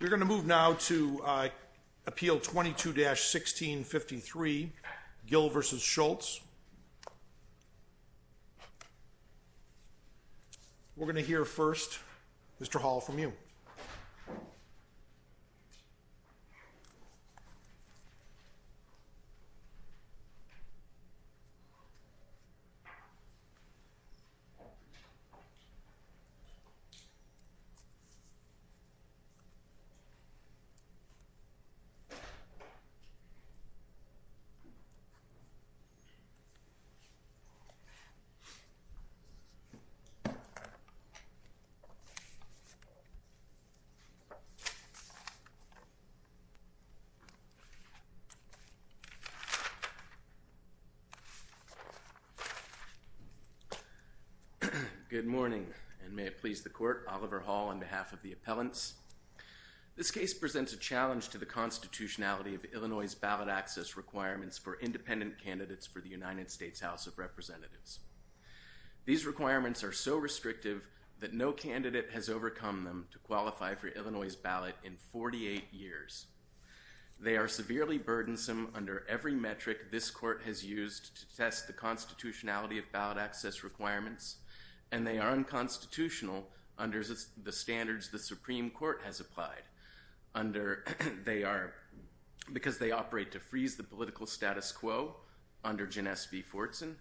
We're going to move now to Appeal 22-1653, Gill v. Schultz. We're going to hear first, Mr. Hall, from you. Good morning, and may it please the Court, Oliver Hall on behalf of the Appellants. This case presents a challenge to the constitutionality of Illinois' ballot access requirements for independent candidates for the United States House of Representatives. These requirements are so restrictive that no candidate has overcome them to qualify for Illinois' ballot in 48 years. They are severely burdensome under every metric this Court has used to test the constitutionality of ballot access requirements, and they are unconstitutional under the standards the Supreme under Jyn S. V. Fortson,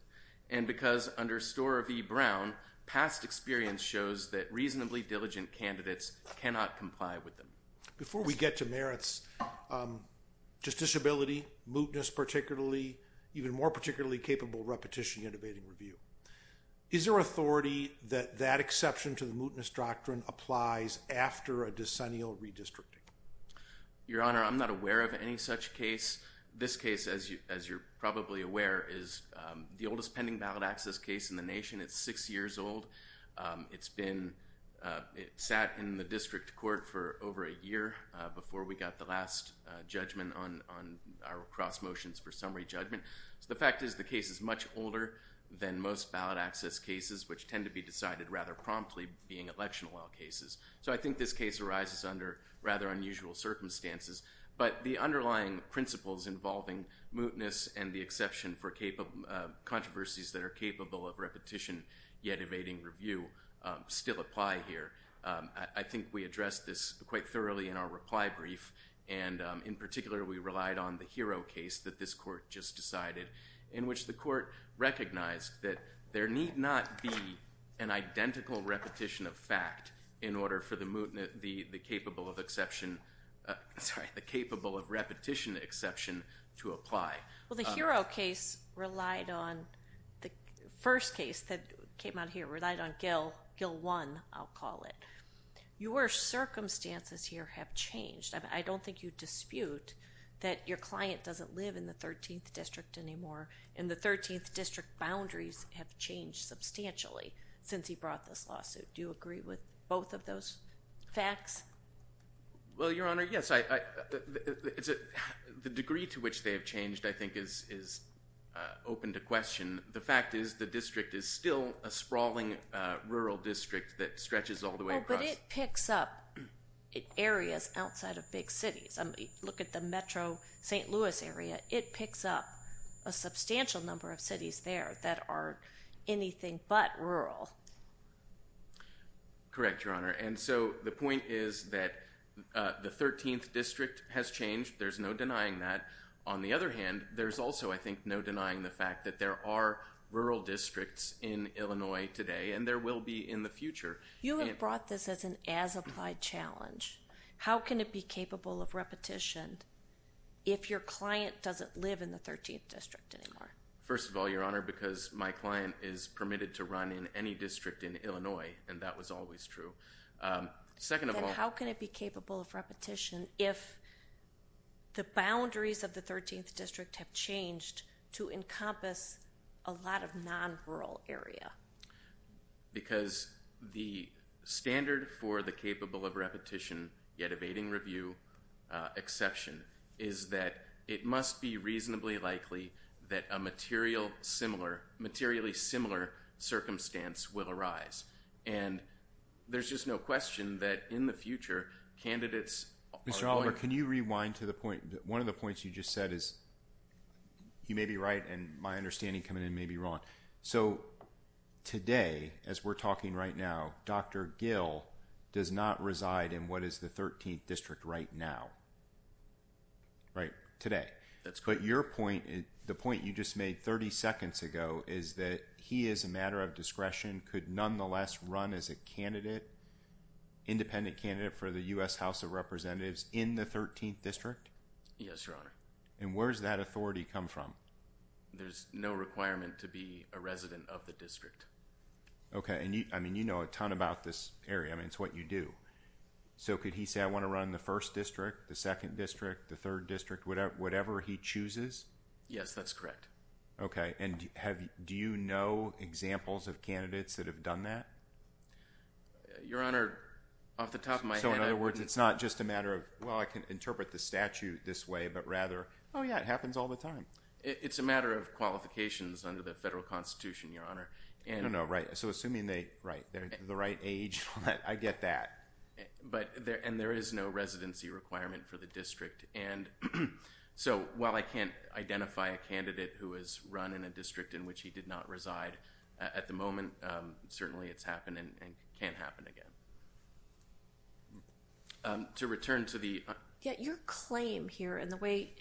and because under Storer v. Brown, past experience shows that reasonably diligent candidates cannot comply with them. Before we get to merits, justiciability, mootness particularly, even more particularly capable repetition, intubating review. Is there authority that that exception to the mootness doctrine applies after a decennial redistricting? Your Honor, I'm not aware of any such case. This case, as you're probably aware, is the oldest pending ballot access case in the nation. It's six years old. It's been, it sat in the district court for over a year before we got the last judgment on our cross motions for summary judgment. The fact is the case is much older than most ballot access cases, which tend to be decided rather promptly being election law cases. So I think this case arises under rather unusual circumstances, but the underlying principles involving mootness and the exception for controversies that are capable of repetition yet evading review still apply here. I think we addressed this quite thoroughly in our reply brief, and in particular we relied on the Hero case that this court just decided, in which the court recognized that there need not be an identical repetition of fact in order for the mootness, the capable of exception, sorry, the capable of repetition exception to apply. Well, the Hero case relied on, the first case that came out here relied on Gill, Gill 1, I'll call it. Your circumstances here have changed. I don't think you dispute that your client doesn't live in the 13th district anymore, and the 13th district boundaries have changed substantially since he brought this lawsuit. Do you agree with both of those facts? Well, Your Honor, yes. The degree to which they have changed I think is open to question. The fact is the district is still a sprawling rural district that stretches all the way across. Oh, but it picks up areas outside of big cities. Look at the metro St. Louis area. It picks up a substantial number of cities there that are anything but rural. Correct, Your Honor. The point is that the 13th district has changed. There's no denying that. On the other hand, there's also, I think, no denying the fact that there are rural districts in Illinois today, and there will be in the future. You have brought this as an as-applied challenge. How can it be capable of repetition if your client doesn't live in the 13th district anymore? First of all, Your Honor, because my client is permitted to run in any district in Illinois, and that was always true. Second of all- Then how can it be capable of repetition if the boundaries of the 13th district have changed to encompass a lot of non-rural area? Because the standard for the capable of repetition yet evading review exception is that it must be reasonably likely that a materially similar circumstance will arise. And there's just no question that in the future, candidates are going- Mr. Oliver, can you rewind to the point? One of the points you just said is, you may be right, and my understanding coming in may be wrong. So today, as we're talking right now, Dr. Gill does not reside in what is the 13th district right now. Right? Today. That's correct. But your point, the point you just made 30 seconds ago, is that he is a matter of discretion, could nonetheless run as a candidate, independent candidate for the U.S. House of Representatives in the 13th district? Yes, Your Honor. And where does that authority come from? There's no requirement to be a resident of the district. Okay, and you know a ton about this area. I mean, it's what you do. So could he say, I want to run the 1st district, the 2nd district, the 3rd district, whatever he chooses? Yes, that's correct. Okay, and do you know examples of candidates that have done that? Your Honor, off the top of my head- So in other words, it's not just a matter of, well, I can interpret the statute this way, but rather, oh yeah, it happens all the time. It's a matter of qualifications under the federal constitution, Your Honor. I know, right. So assuming they're the right age, I get that. And there is no residency requirement for the district. And so, while I can't identify a candidate who has run in a district in which he did not reside at the moment, certainly it's happened and can't happen again. To return to the- Yeah, your claim here, and the way,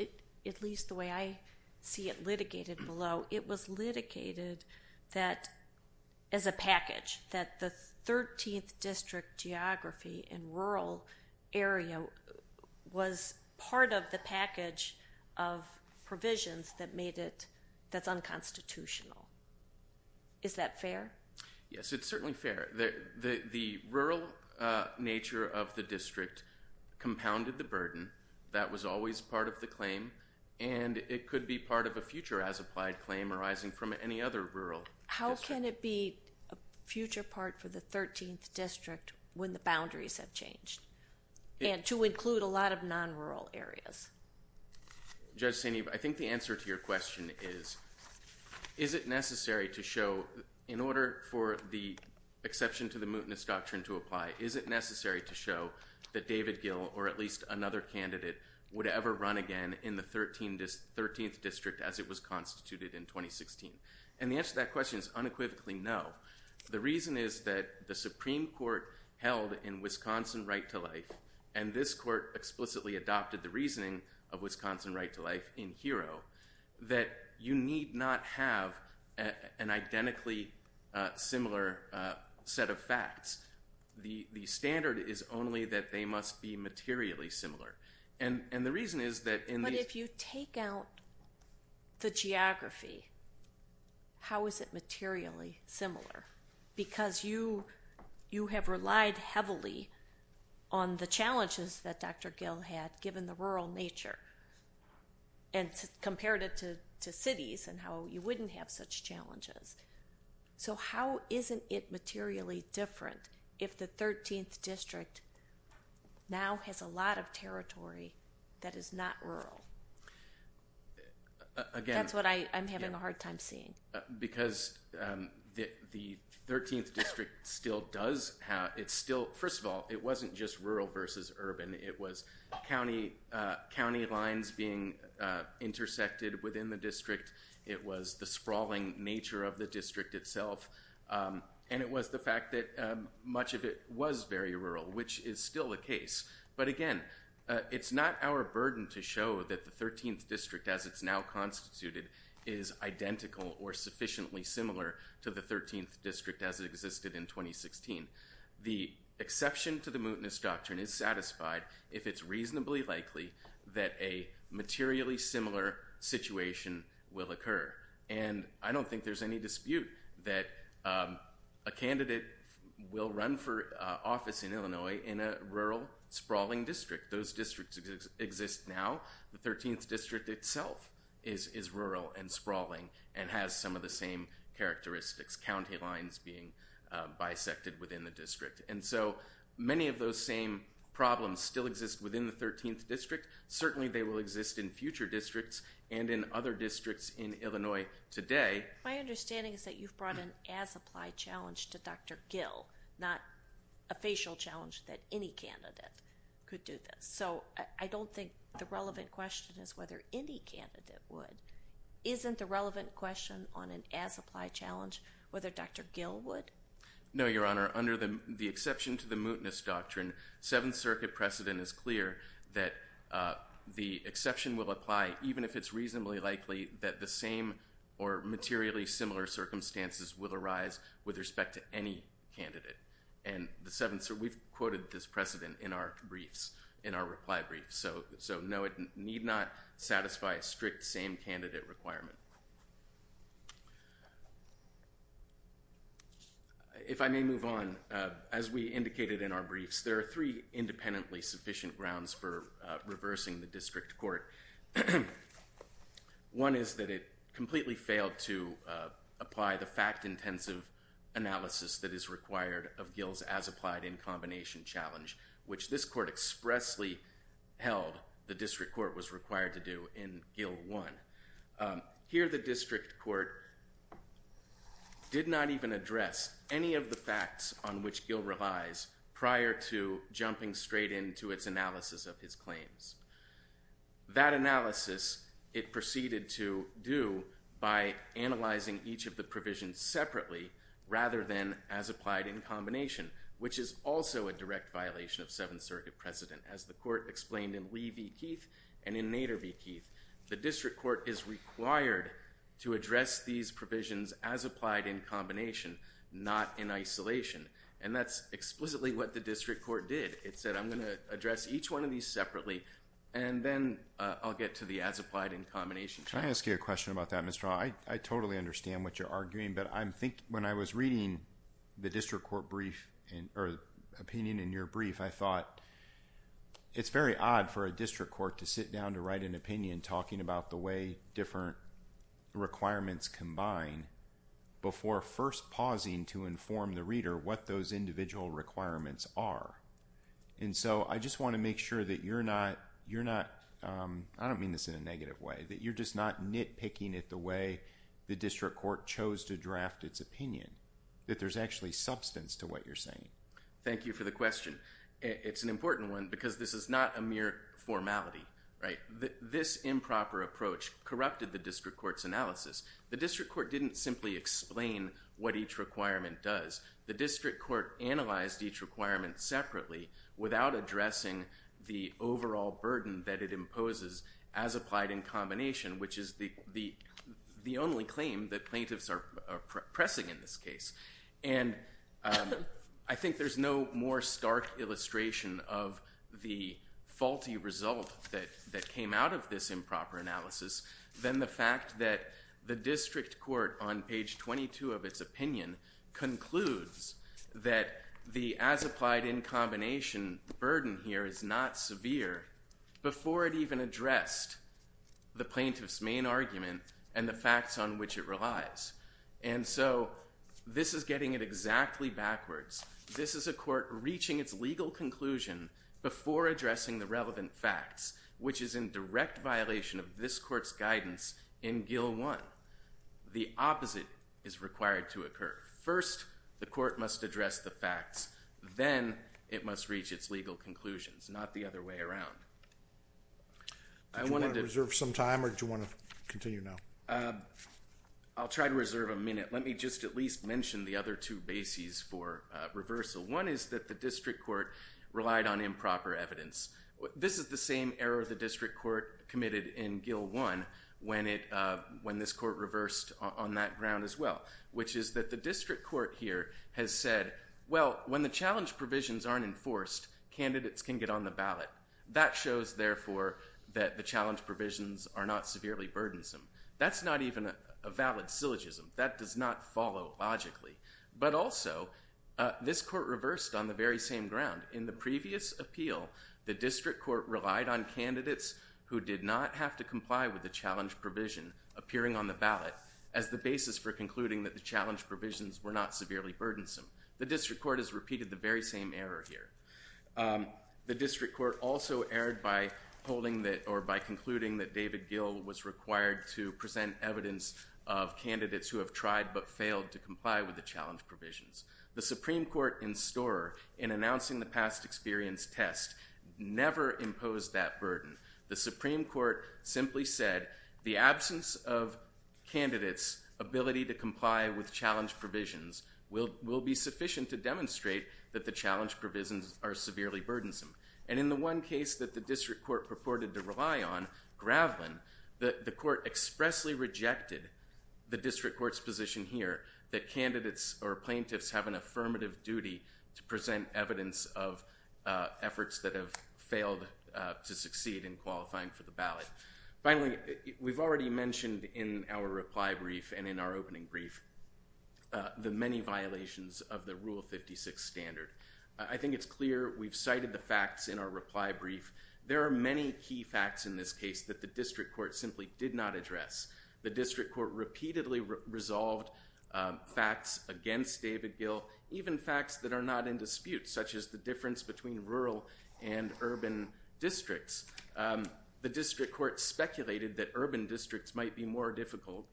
at least the way I see it litigated below, it was litigated that, as a package, that the 13th district geography in rural area was part of the package of provisions that made it, that's unconstitutional. Is that fair? Yes, it's certainly fair. The rural nature of the district compounded the burden that was always part of the claim, and it could be part of a future as-applied claim arising from any other rural district. How can it be a future part for the 13th district when the boundaries have changed, and to include a lot of non-rural areas? Judge Saineev, I think the answer to your question is, is it necessary to show, in order for the exception to the mootness doctrine to apply, is it necessary to show that David the 13th district as it was constituted in 2016? And the answer to that question is unequivocally no. The reason is that the Supreme Court held in Wisconsin Right to Life, and this court explicitly adopted the reasoning of Wisconsin Right to Life in HERO, that you need not have an identically similar set of facts. The standard is only that they must be materially similar. And the reason is that- But if you take out the geography, how is it materially similar? Because you have relied heavily on the challenges that Dr. Gill had given the rural nature, and compared it to cities and how you wouldn't have such challenges. So how isn't it materially different if the 13th district now has a lot of territory that is not rural? Again- That's what I'm having a hard time seeing. Because the 13th district still does have, it's still, first of all, it wasn't just rural versus urban. It was county lines being intersected within the district. It was the sprawling nature of the district itself. And it was the fact that much of it was very rural, which is still the case. But again, it's not our burden to show that the 13th district as it's now constituted is identical or sufficiently similar to the 13th district as it existed in 2016. The exception to the mootness doctrine is satisfied if it's reasonably likely that a materially similar situation will occur. And I don't think there's any dispute that a candidate will run for office in Illinois in a rural, sprawling district. Those districts exist now. The 13th district itself is rural and sprawling and has some of the same characteristics. County lines being bisected within the district. And so many of those same problems still exist within the 13th district. Certainly they will exist in future districts and in other districts in Illinois today. My understanding is that you've brought an as-applied challenge to Dr. Gill, not a facial challenge that any candidate could do this. So I don't think the relevant question is whether any candidate would. Isn't the relevant question on an as-applied challenge whether Dr. Gill would? No, Your Honor. Under the exception to the mootness doctrine, Seventh Circuit precedent is clear that the exception will apply even if it's reasonably likely that the same or materially similar circumstances will arise with respect to any candidate. And the Seventh Circuit, we've quoted this precedent in our briefs, in our reply briefs. So no, it need not satisfy a strict same candidate requirement. If I may move on, as we indicated in our briefs, there are three independently sufficient grounds for reversing the district court. One is that it completely failed to apply the fact-intensive analysis that is required of Gill's as-applied in combination challenge, which this court expressly held the district court was required to do in Gill 1. Here the district court did not even address any of the facts on which Gill relies prior to jumping straight into its analysis of his claims. That analysis it proceeded to do by analyzing each of the provisions separately rather than as applied in combination, which is also a direct violation of Seventh Circuit precedent. As the court explained in Lee v. Keith and in Nader v. Keith, the district court is required to address these provisions as applied in combination, not in isolation. And that's explicitly what the district court did. It said I'm going to address each one of these separately, and then I'll get to the as-applied in combination challenge. Can I ask you a question about that, Mr. Hall? I totally understand what you're arguing, but I think when I was reading the district court brief, or opinion in your brief, I thought it's very odd for a district court to sit down to write an opinion talking about the way different requirements combine before first pausing to inform the reader what those individual requirements are. And so I just want to make sure that you're not, I don't mean this in a negative way, that you're just not nitpicking it the way the district court chose to draft its opinion, that there's actually substance to what you're saying. Thank you for the question. It's an important one because this is not a mere formality, right? This improper approach corrupted the district court's analysis. The district court didn't simply explain what each requirement does. The district court analyzed each requirement separately without addressing the overall burden that it imposes as applied in combination, which is the only claim that plaintiffs are pressing in this case. And I think there's no more stark illustration of the faulty result that came out of this The district court on page 22 of its opinion concludes that the as applied in combination burden here is not severe before it even addressed the plaintiff's main argument and the facts on which it relies. And so this is getting it exactly backwards. This is a court reaching its legal conclusion before addressing the relevant facts, which is in direct violation of this court's guidance in Gil 1. The opposite is required to occur. First the court must address the facts, then it must reach its legal conclusions, not the other way around. Do you want to reserve some time or do you want to continue now? I'll try to reserve a minute. Let me just at least mention the other two bases for reversal. One is that the district court relied on improper evidence. This is the same error the district court committed in Gil 1 when this court reversed on that ground as well, which is that the district court here has said, well, when the challenge provisions aren't enforced, candidates can get on the ballot. That shows, therefore, that the challenge provisions are not severely burdensome. That's not even a valid syllogism. That does not follow logically. But also this court reversed on the very same ground. In the previous appeal, the district court relied on candidates who did not have to comply with the challenge provision appearing on the ballot as the basis for concluding that the challenge provisions were not severely burdensome. The district court has repeated the very same error here. The district court also erred by concluding that David Gil was required to present evidence of candidates who have tried but failed to comply with the challenge provisions. The Supreme Court in Storer, in announcing the past experience test, never imposed that burden. The Supreme Court simply said the absence of candidates' ability to comply with challenge provisions will be sufficient to demonstrate that the challenge provisions are severely burdensome. And in the one case that the district court purported to rely on, Gravelin, the court expressly rejected the district court's position here that candidates or plaintiffs have an affirmative duty to present evidence of efforts that have failed to succeed in qualifying for the ballot. Finally, we've already mentioned in our reply brief and in our opening brief the many violations of the Rule 56 standard. I think it's clear we've cited the facts in our reply brief. There are many key facts in this case that the district court simply did not address. The district court repeatedly resolved facts against David Gil, even facts that are not in dispute, such as the difference between rural and urban districts. The district court speculated that urban districts might be more difficult,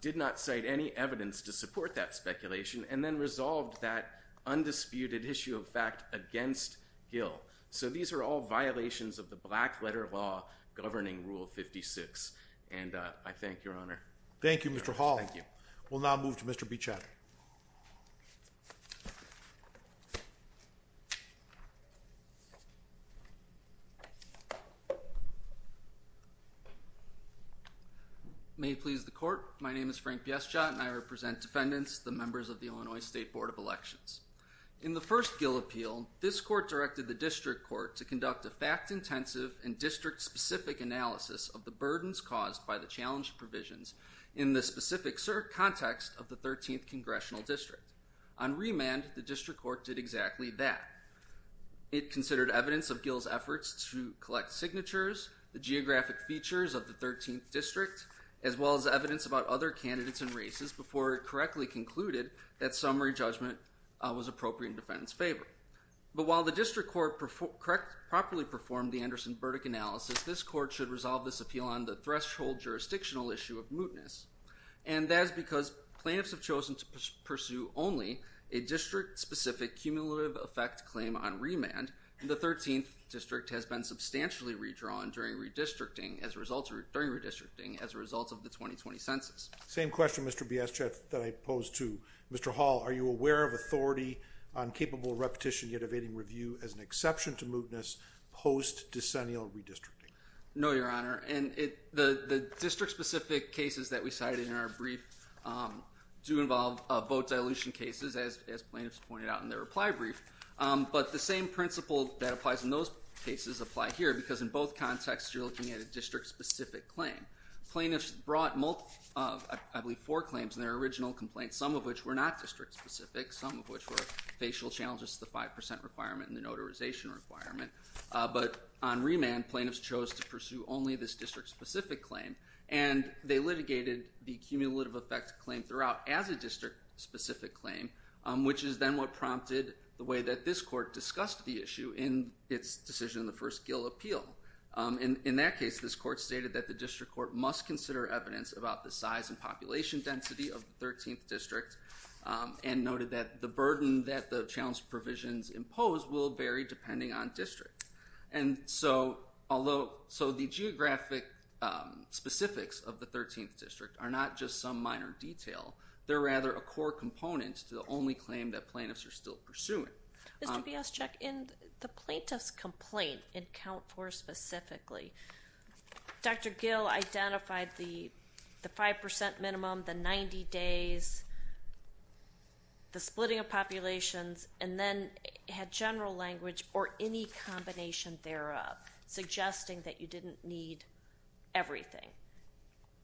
did not cite any evidence to support that speculation, and then resolved that undisputed issue of fact against Gil. So these are all violations of the black letter law governing Rule 56. And I thank your Honor. Thank you, Mr. Hall. Thank you. We'll now move to Mr. Beechat. May it please the court, my name is Frank Beechat and I represent defendants, the members of the Illinois State Board of Elections. In the first Gil appeal, this court directed the district court to conduct a fact-intensive and district-specific analysis of the burdens caused by the challenged provisions in the specific context of the 13th congressional district. On remand, the district court did exactly that. It considered evidence of Gil's efforts to collect signatures, the geographic features of the 13th district, as well as evidence about other candidates and races before it Every judgment was appropriate in defendants' favor. But while the district court properly performed the Anderson-Burdick analysis, this court should resolve this appeal on the threshold jurisdictional issue of mootness. And that is because plaintiffs have chosen to pursue only a district-specific cumulative effect claim on remand, and the 13th district has been substantially redrawn during redistricting as a result of the 2020 census. Same question, Mr. Beechat, that I pose to Mr. Hall. Are you aware of authority on capable repetition yet evading review as an exception to mootness post-decennial redistricting? No, Your Honor, and the district-specific cases that we cited in our brief do involve vote dilution cases, as plaintiffs pointed out in their reply brief, but the same principle that applies in those cases apply here, because in both contexts, you're looking at a district-specific claim. Plaintiffs brought, I believe, four claims in their original complaint, some of which were not district-specific, some of which were facial challenges to the 5% requirement and the notarization requirement, but on remand, plaintiffs chose to pursue only this district-specific claim, and they litigated the cumulative effect claim throughout as a district-specific claim, which is then what prompted the way that this court discussed the issue in its decision in the first Gill appeal. In that case, this court stated that the district court must consider evidence about the size and population density of the 13th district, and noted that the burden that the challenge provisions impose will vary depending on district. And so, although, so the geographic specifics of the 13th district are not just some minor detail, they're rather a core component to the only claim that plaintiffs are still pursuing. Mr. Biaschek, in the plaintiff's complaint in count four specifically, Dr. Gill identified the 5% minimum, the 90 days, the splitting of populations, and then had general language or any combination thereof, suggesting that you didn't need everything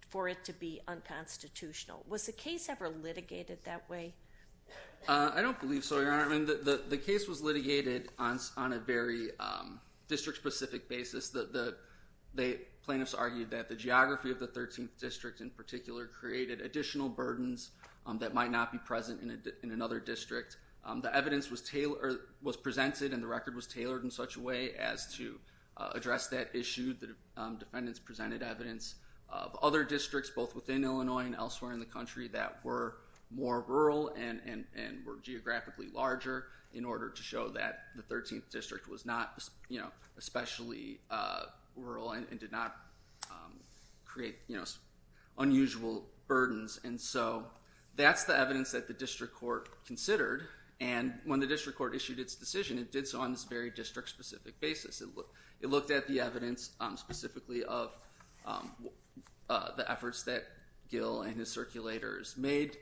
for it to be unconstitutional. Was the case ever litigated that way? I don't believe so, Your Honor. The case was litigated on a very district-specific basis. The plaintiffs argued that the geography of the 13th district in particular created additional burdens that might not be present in another district. The evidence was presented and the record was tailored in such a way as to address that issue. The defendants presented evidence of other districts, both within Illinois and elsewhere in the country, that were more rural and were geographically larger in order to show that the 13th district was not especially rural and did not create unusual burdens. And so that's the evidence that the district court considered. And when the district court issued its decision, it did so on this very district-specific basis. It looked at the evidence specifically of the efforts that Gill and his circulators made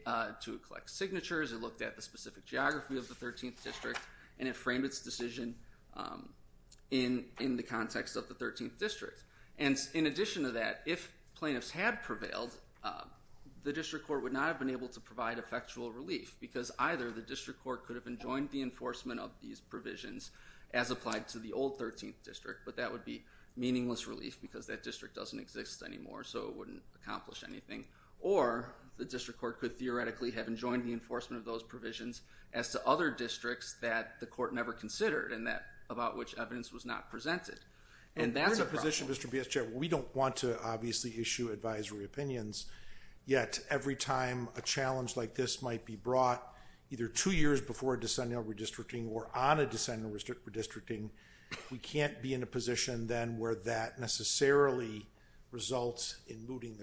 to collect signatures, it looked at the specific geography of the 13th district, and it framed its decision in the context of the 13th district. And in addition to that, if plaintiffs had prevailed, the district court would not have been able to provide effectual relief because either the district court could have enjoined the enforcement of these provisions as applied to the old 13th district, but that would be meaningless relief because that district doesn't exist anymore, so it wouldn't accomplish anything. Or the district court could theoretically have enjoined the enforcement of those provisions as to other districts that the court never considered and that about which evidence was not presented. And that's a problem. And we're in a position, Mr. B.S. Chair, where we don't want to obviously issue advisory opinions, yet every time a challenge like this might be brought either two years before a decennial redistricting or on a decennial redistricting, we can't be in a position then where that necessarily results in mooting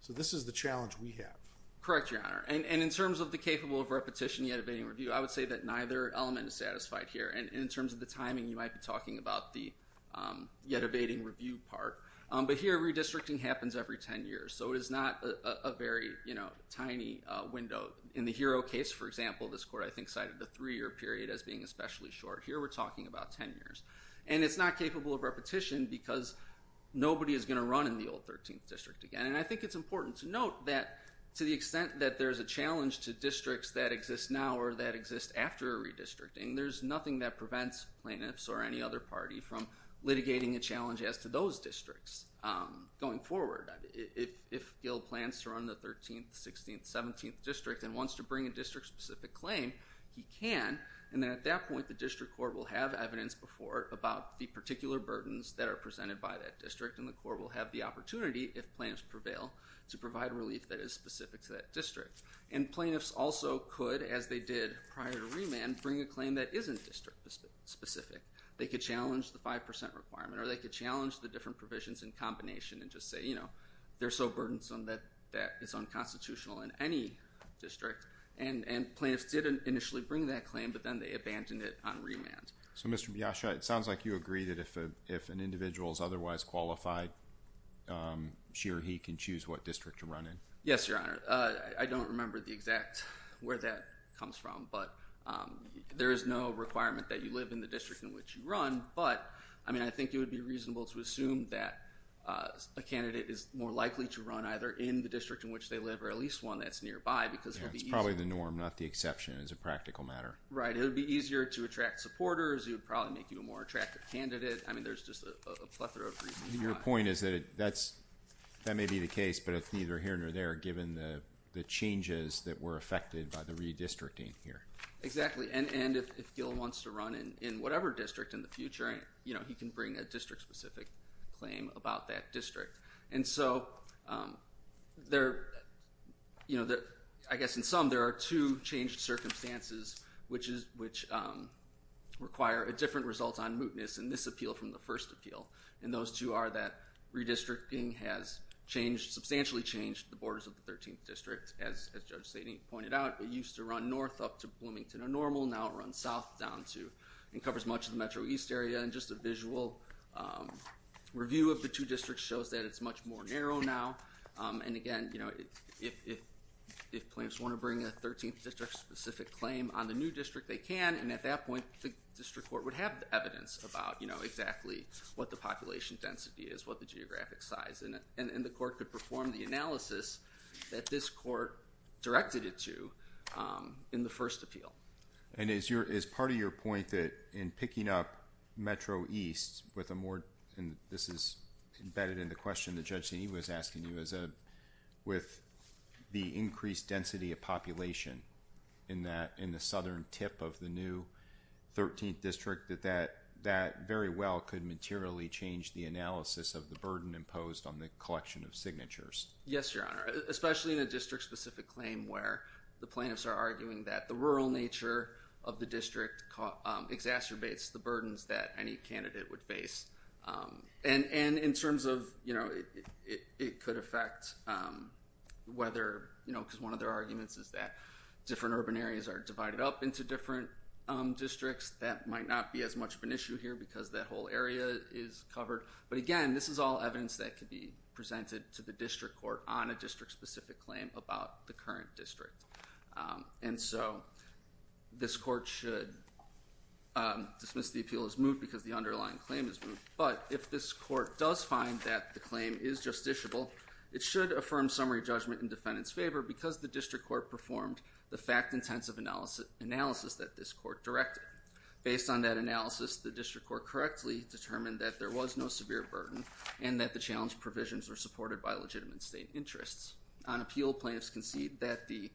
So this is the challenge we have. Correct, Your Honor. And in terms of the capable of repetition yet evading review, I would say that neither element is satisfied here. And in terms of the timing, you might be talking about the yet evading review part, but here redistricting happens every 10 years, so it is not a very tiny window. In the Hero case, for example, this court I think cited the three-year period as being especially short. Here we're talking about 10 years. And it's not capable of repetition because nobody is going to run in the old 13th district again. And I think it's important to note that to the extent that there's a challenge to districts that exist now or that exist after redistricting, there's nothing that prevents plaintiffs or any other party from litigating a challenge as to those districts going forward. If Gil plans to run the 13th, 16th, 17th district and wants to bring a district-specific claim, he can. And then at that point, the district court will have evidence before it about the particular burdens that are presented by that district, and the court will have the opportunity if plaintiffs prevail to provide relief that is specific to that district. And plaintiffs also could, as they did prior to remand, bring a claim that isn't district-specific. They could challenge the 5% requirement or they could challenge the different provisions in combination and just say, you know, they're so burdensome that it's unconstitutional in any district. And plaintiffs did initially bring that claim, but then they abandoned it on remand. So Mr. Biascia, it sounds like you agree that if an individual is otherwise qualified, she or he can choose what district to run in. Yes, Your Honor. I don't remember the exact where that comes from, but there is no requirement that you live in the district in which you run, but, I mean, I think it would be reasonable to assume that a candidate is more likely to run either in the district in which they live or at least one that's nearby because it would be easier. Yeah, it's probably the norm, not the exception as a practical matter. Right. It would be easier to attract supporters, it would probably make you a more attractive candidate. I mean, there's just a plethora of reasons why. Your point is that it, that's, that may be the case, but it's neither here nor there given the changes that were affected by the redistricting here. Exactly. And if Gil wants to run in whatever district in the future, you know, he can bring a district-specific claim about that district. And so, there, you know, I guess in sum, there are two changed circumstances which require a different result on mootness in this appeal from the first appeal, and those two are that redistricting has changed, substantially changed, the borders of the 13th District. As Judge Sadie pointed out, it used to run north up to Bloomington and Normal, now it runs south down to, and covers much of the Metro East area, and just a visual review of the two districts shows that it's much more narrow now, and again, you know, if plaintiffs want to bring a 13th District-specific claim on the new district, they can, and at that point the district court would have evidence about, you know, exactly what the population density is, what the geographic size, and the court could perform the analysis that this court directed it to in the first appeal. And is part of your point that in picking up Metro East with a more, and this is embedded in the question that Judge Sadie was asking you, with the increased density of population in the southern tip of the new 13th District, that that very well could materially change the analysis of the burden imposed on the collection of signatures? Yes, Your Honor. Especially in a district-specific claim where the plaintiffs are arguing that the rural nature of the district exacerbates the burdens that any candidate would face. And in terms of, you know, it could affect whether, you know, because one of their arguments is that different urban areas are divided up into different districts, that might not be as much of an issue here because that whole area is covered, but again, this is all evidence that could be presented to the district court on a district-specific claim about the current district. And so, this court should dismiss the appeal as moot because the underlying claim is moot, but if this court does find that the claim is justiciable, it should affirm summary judgment in defendant's favor because the district court performed the fact-intensive analysis that this court directed. Based on that analysis, the district court correctly determined that there was no severe burden and that the challenge provisions were supported by legitimate state interests. On appeal, plaintiffs concede that the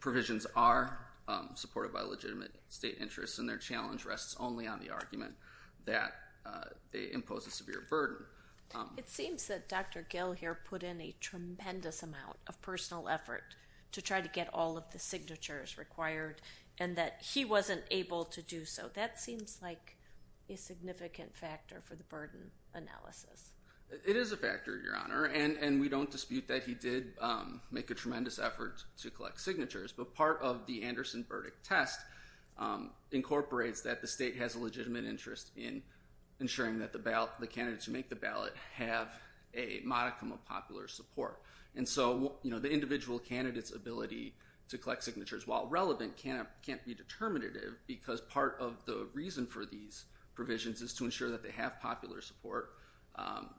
provisions are supported by legitimate state interests and their challenge rests only on the argument that they impose a severe burden. It seems that Dr. Gil here put in a tremendous amount of personal effort to try to get all of the signatures required and that he wasn't able to do so. That seems like a significant factor for the burden analysis. It is a factor, Your Honor, and we don't dispute that he did make a tremendous effort to collect signatures, but part of the Anderson verdict test incorporates that the state has a legitimate interest in ensuring that the candidates who make the ballot have a modicum of popular support. And so, the individual candidate's ability to collect signatures, while relevant, can't be determinative because part of the reason for these provisions is to ensure that they have popular support,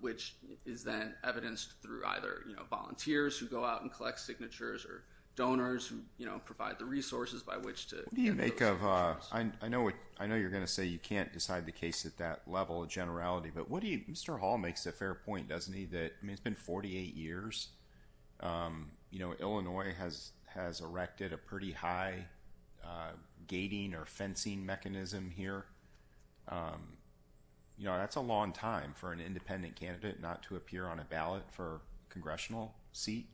which is then evidenced through either volunteers who go out and collect signatures or donors who provide the resources by which to get those signatures. What do you make of, I know you're going to say you can't decide the case at that level of generality, but what do you, Mr. Hall makes a fair point, doesn't he, that it's been 48 years, Illinois has erected a pretty high gating or fencing mechanism here. You know, that's a long time for an independent candidate not to appear on a ballot for a congressional seat.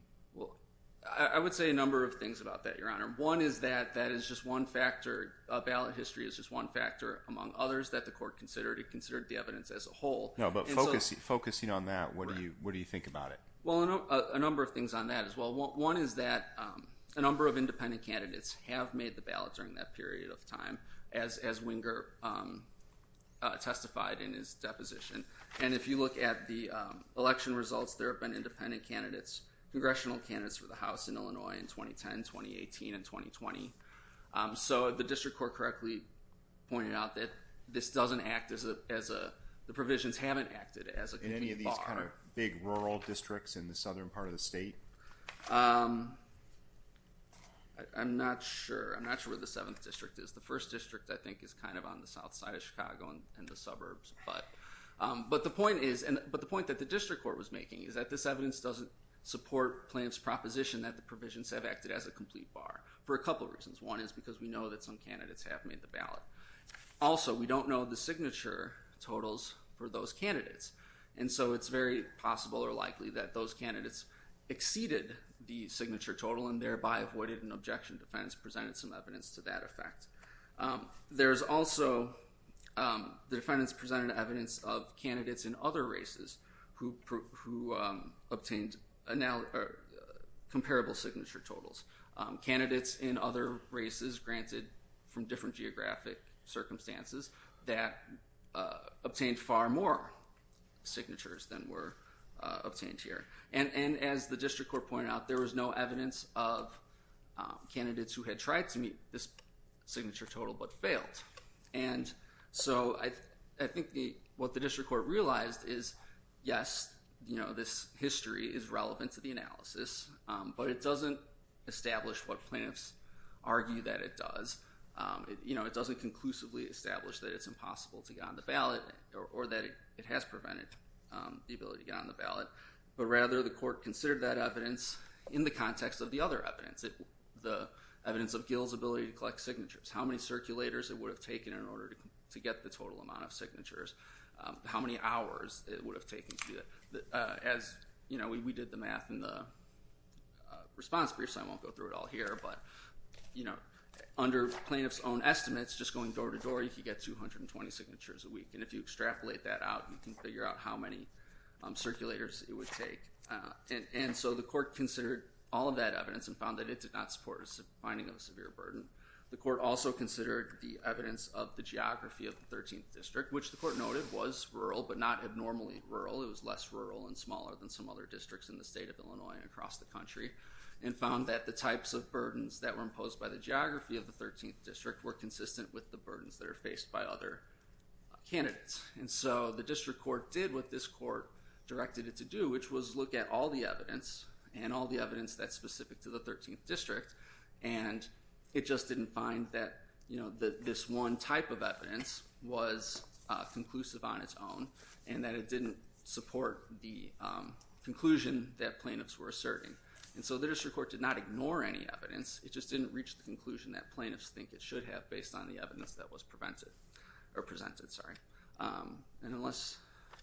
I would say a number of things about that, Your Honor. One is that that is just one factor, ballot history is just one factor among others that the court considered. It considered the evidence as a whole. No, but focusing on that, what do you think about it? Well, a number of things on that as well. One is that a number of independent candidates have made the ballot during that period of time, testified in his deposition. And if you look at the election results, there have been independent candidates, congressional candidates for the House in Illinois in 2010, 2018, and 2020. So the district court correctly pointed out that this doesn't act as a, the provisions haven't acted as a bar. In any of these kind of big rural districts in the southern part of the state? I'm not sure. I'm not sure where the 7th district is. The first district I think is kind of on the south side of Chicago and the suburbs. But the point is, but the point that the district court was making is that this evidence doesn't support Plaintiff's proposition that the provisions have acted as a complete bar. For a couple of reasons. One is because we know that some candidates have made the ballot. Also we don't know the signature totals for those candidates. And so it's very possible or likely that those candidates exceeded the signature total and thereby avoided an objection. The defendants presented some evidence to that effect. There's also, the defendants presented evidence of candidates in other races who obtained a comparable signature totals. Candidates in other races granted from different geographic circumstances that obtained far more signatures than were obtained here. And as the district court pointed out, there was no evidence of candidates who had tried to meet this signature total but failed. And so I think what the district court realized is yes, this history is relevant to the analysis. But it doesn't establish what plaintiffs argue that it does. It doesn't conclusively establish that it's impossible to get on the ballot or that it has prevented the ability to get on the ballot. But rather the court considered that evidence in the context of the other evidence. The evidence of Gill's ability to collect signatures. How many circulators it would have taken in order to get the total amount of signatures. How many hours it would have taken to do that. As we did the math in the response brief, so I won't go through it all here, but under plaintiff's own estimates, just going door to door, you could get 220 signatures a week. And if you extrapolate that out, you can figure out how many circulators it would take. And so the court considered all of that evidence and found that it did not support a finding of a severe burden. The court also considered the evidence of the geography of the 13th district, which the court noted was rural but not abnormally rural. It was less rural and smaller than some other districts in the state of Illinois and across the country. And found that the types of burdens that were imposed by the geography of the 13th district were consistent with the burdens that are faced by other candidates. And so the district court did what this court directed it to do, which was look at all the evidence, and all the evidence that's specific to the 13th district, and it just didn't find that this one type of evidence was conclusive on its own. And that it didn't support the conclusion that plaintiffs were asserting. And so the district court did not ignore any evidence, it just didn't reach the conclusion that plaintiffs think it should have based on the evidence that was presented. And unless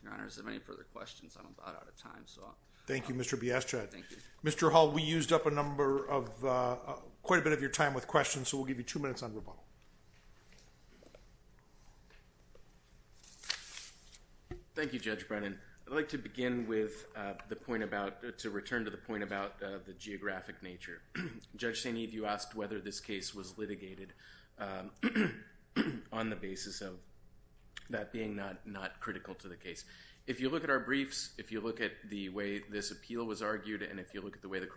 your honors have any further questions, I'm about out of time. Thank you, Mr. Biaschad. Thank you. Mr. Hall, we used up quite a bit of your time with questions, so we'll give you two minutes on rebuttal. Thank you, Judge Brennan. I'd like to begin with the point about, to return to the point about the geographic nature. Judge St. Eve, you asked whether this case was litigated on the basis of that being not critical to the case. If you look at our briefs, if you look at the way this appeal was argued, and if you look at the way the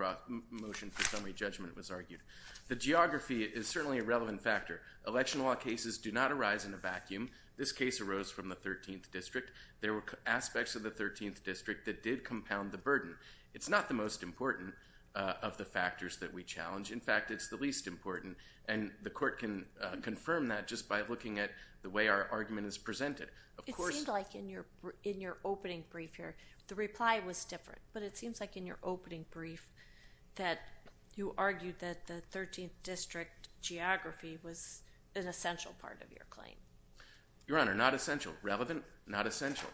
motion for summary judgment was argued, the geography is certainly a relevant factor. Election law cases do not arise in a vacuum. This case arose from the 13th district. There were aspects of the 13th district that did compound the burden. It's not the most important of the factors that we challenge. In fact, it's the least important. And the court can confirm that just by looking at the way our argument is presented. It seemed like in your opening brief here, the reply was different. But it seems like in your opening brief that you argued that the 13th district geography was an essential part of your claim. Your Honor, not essential. Relevant, not essential.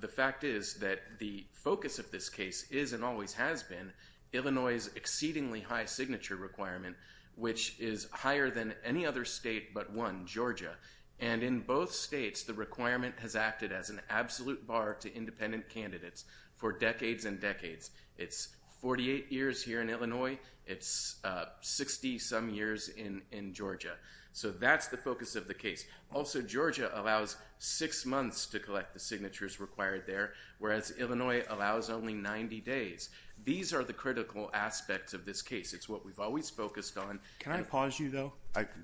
The fact is that the focus of this case is and always has been Illinois' exceedingly high signature requirement, which is higher than any other state but one, Georgia. And in both states, the requirement has acted as an absolute bar to independent candidates for decades and decades. It's 48 years here in Illinois. It's 60-some years in Georgia. So that's the focus of the case. Also, Georgia allows six months to collect the signatures required there, whereas Illinois allows only 90 days. These are the critical aspects of this case. It's what we've always focused on. Can I pause you, though?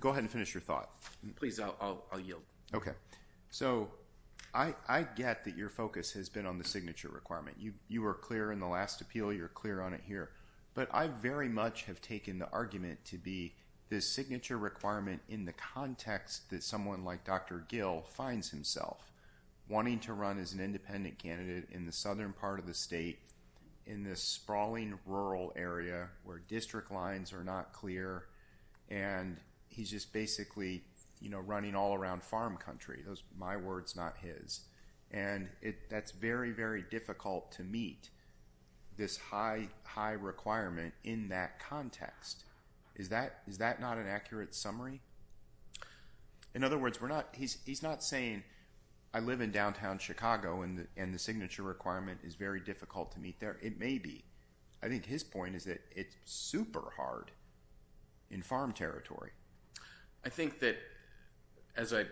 Go ahead and finish your thought. Please, I'll yield. Okay. So I get that your focus has been on the signature requirement. You were clear in the last appeal. You're clear on it here. But I very much have taken the argument to be the signature requirement in the context that someone like Dr. Gill finds himself wanting to run as an independent candidate in the southern part of the state in this sprawling rural area where district lines are not clear and he's just basically running all around farm country. My word's not his. And that's very, very difficult to meet this high requirement in that context. Is that not an accurate summary? In other words, he's not saying I live in downtown Chicago and the signature requirement is very difficult to meet there. It may be. I think his point is that it's super hard in farm territory. I think that, as I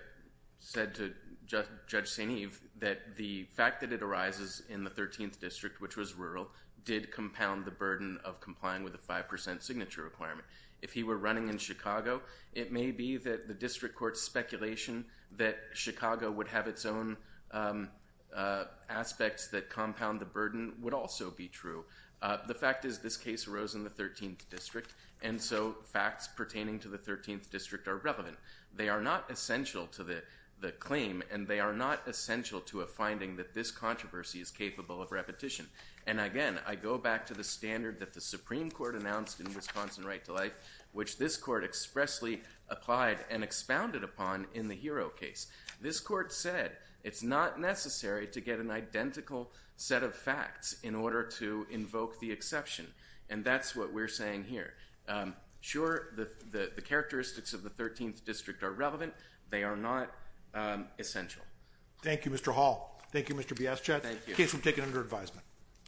said to Judge St. Eve, that the fact that it arises in the 13th district, which was rural, did compound the burden of complying with the 5% signature requirement. If he were running in Chicago, it may be that the district court's speculation that Chicago would have its own aspects that compound the burden would also be true. The fact is this case arose in the 13th district and so facts pertaining to the 13th district are relevant. They are not essential to the claim and they are not essential to a finding that this controversy is capable of repetition. And again, I go back to the standard that the Supreme Court announced in Wisconsin right to life, which this court expressly applied and expounded upon in the Hero case. This court said it's not necessary to get an identical set of facts in order to invoke the exception. And that's what we're saying here. Sure, the characteristics of the 13th district are relevant. They are not essential. Thank you, Mr. Hall. Thank you, Mr. Biaschat. Case will be taken under advisement.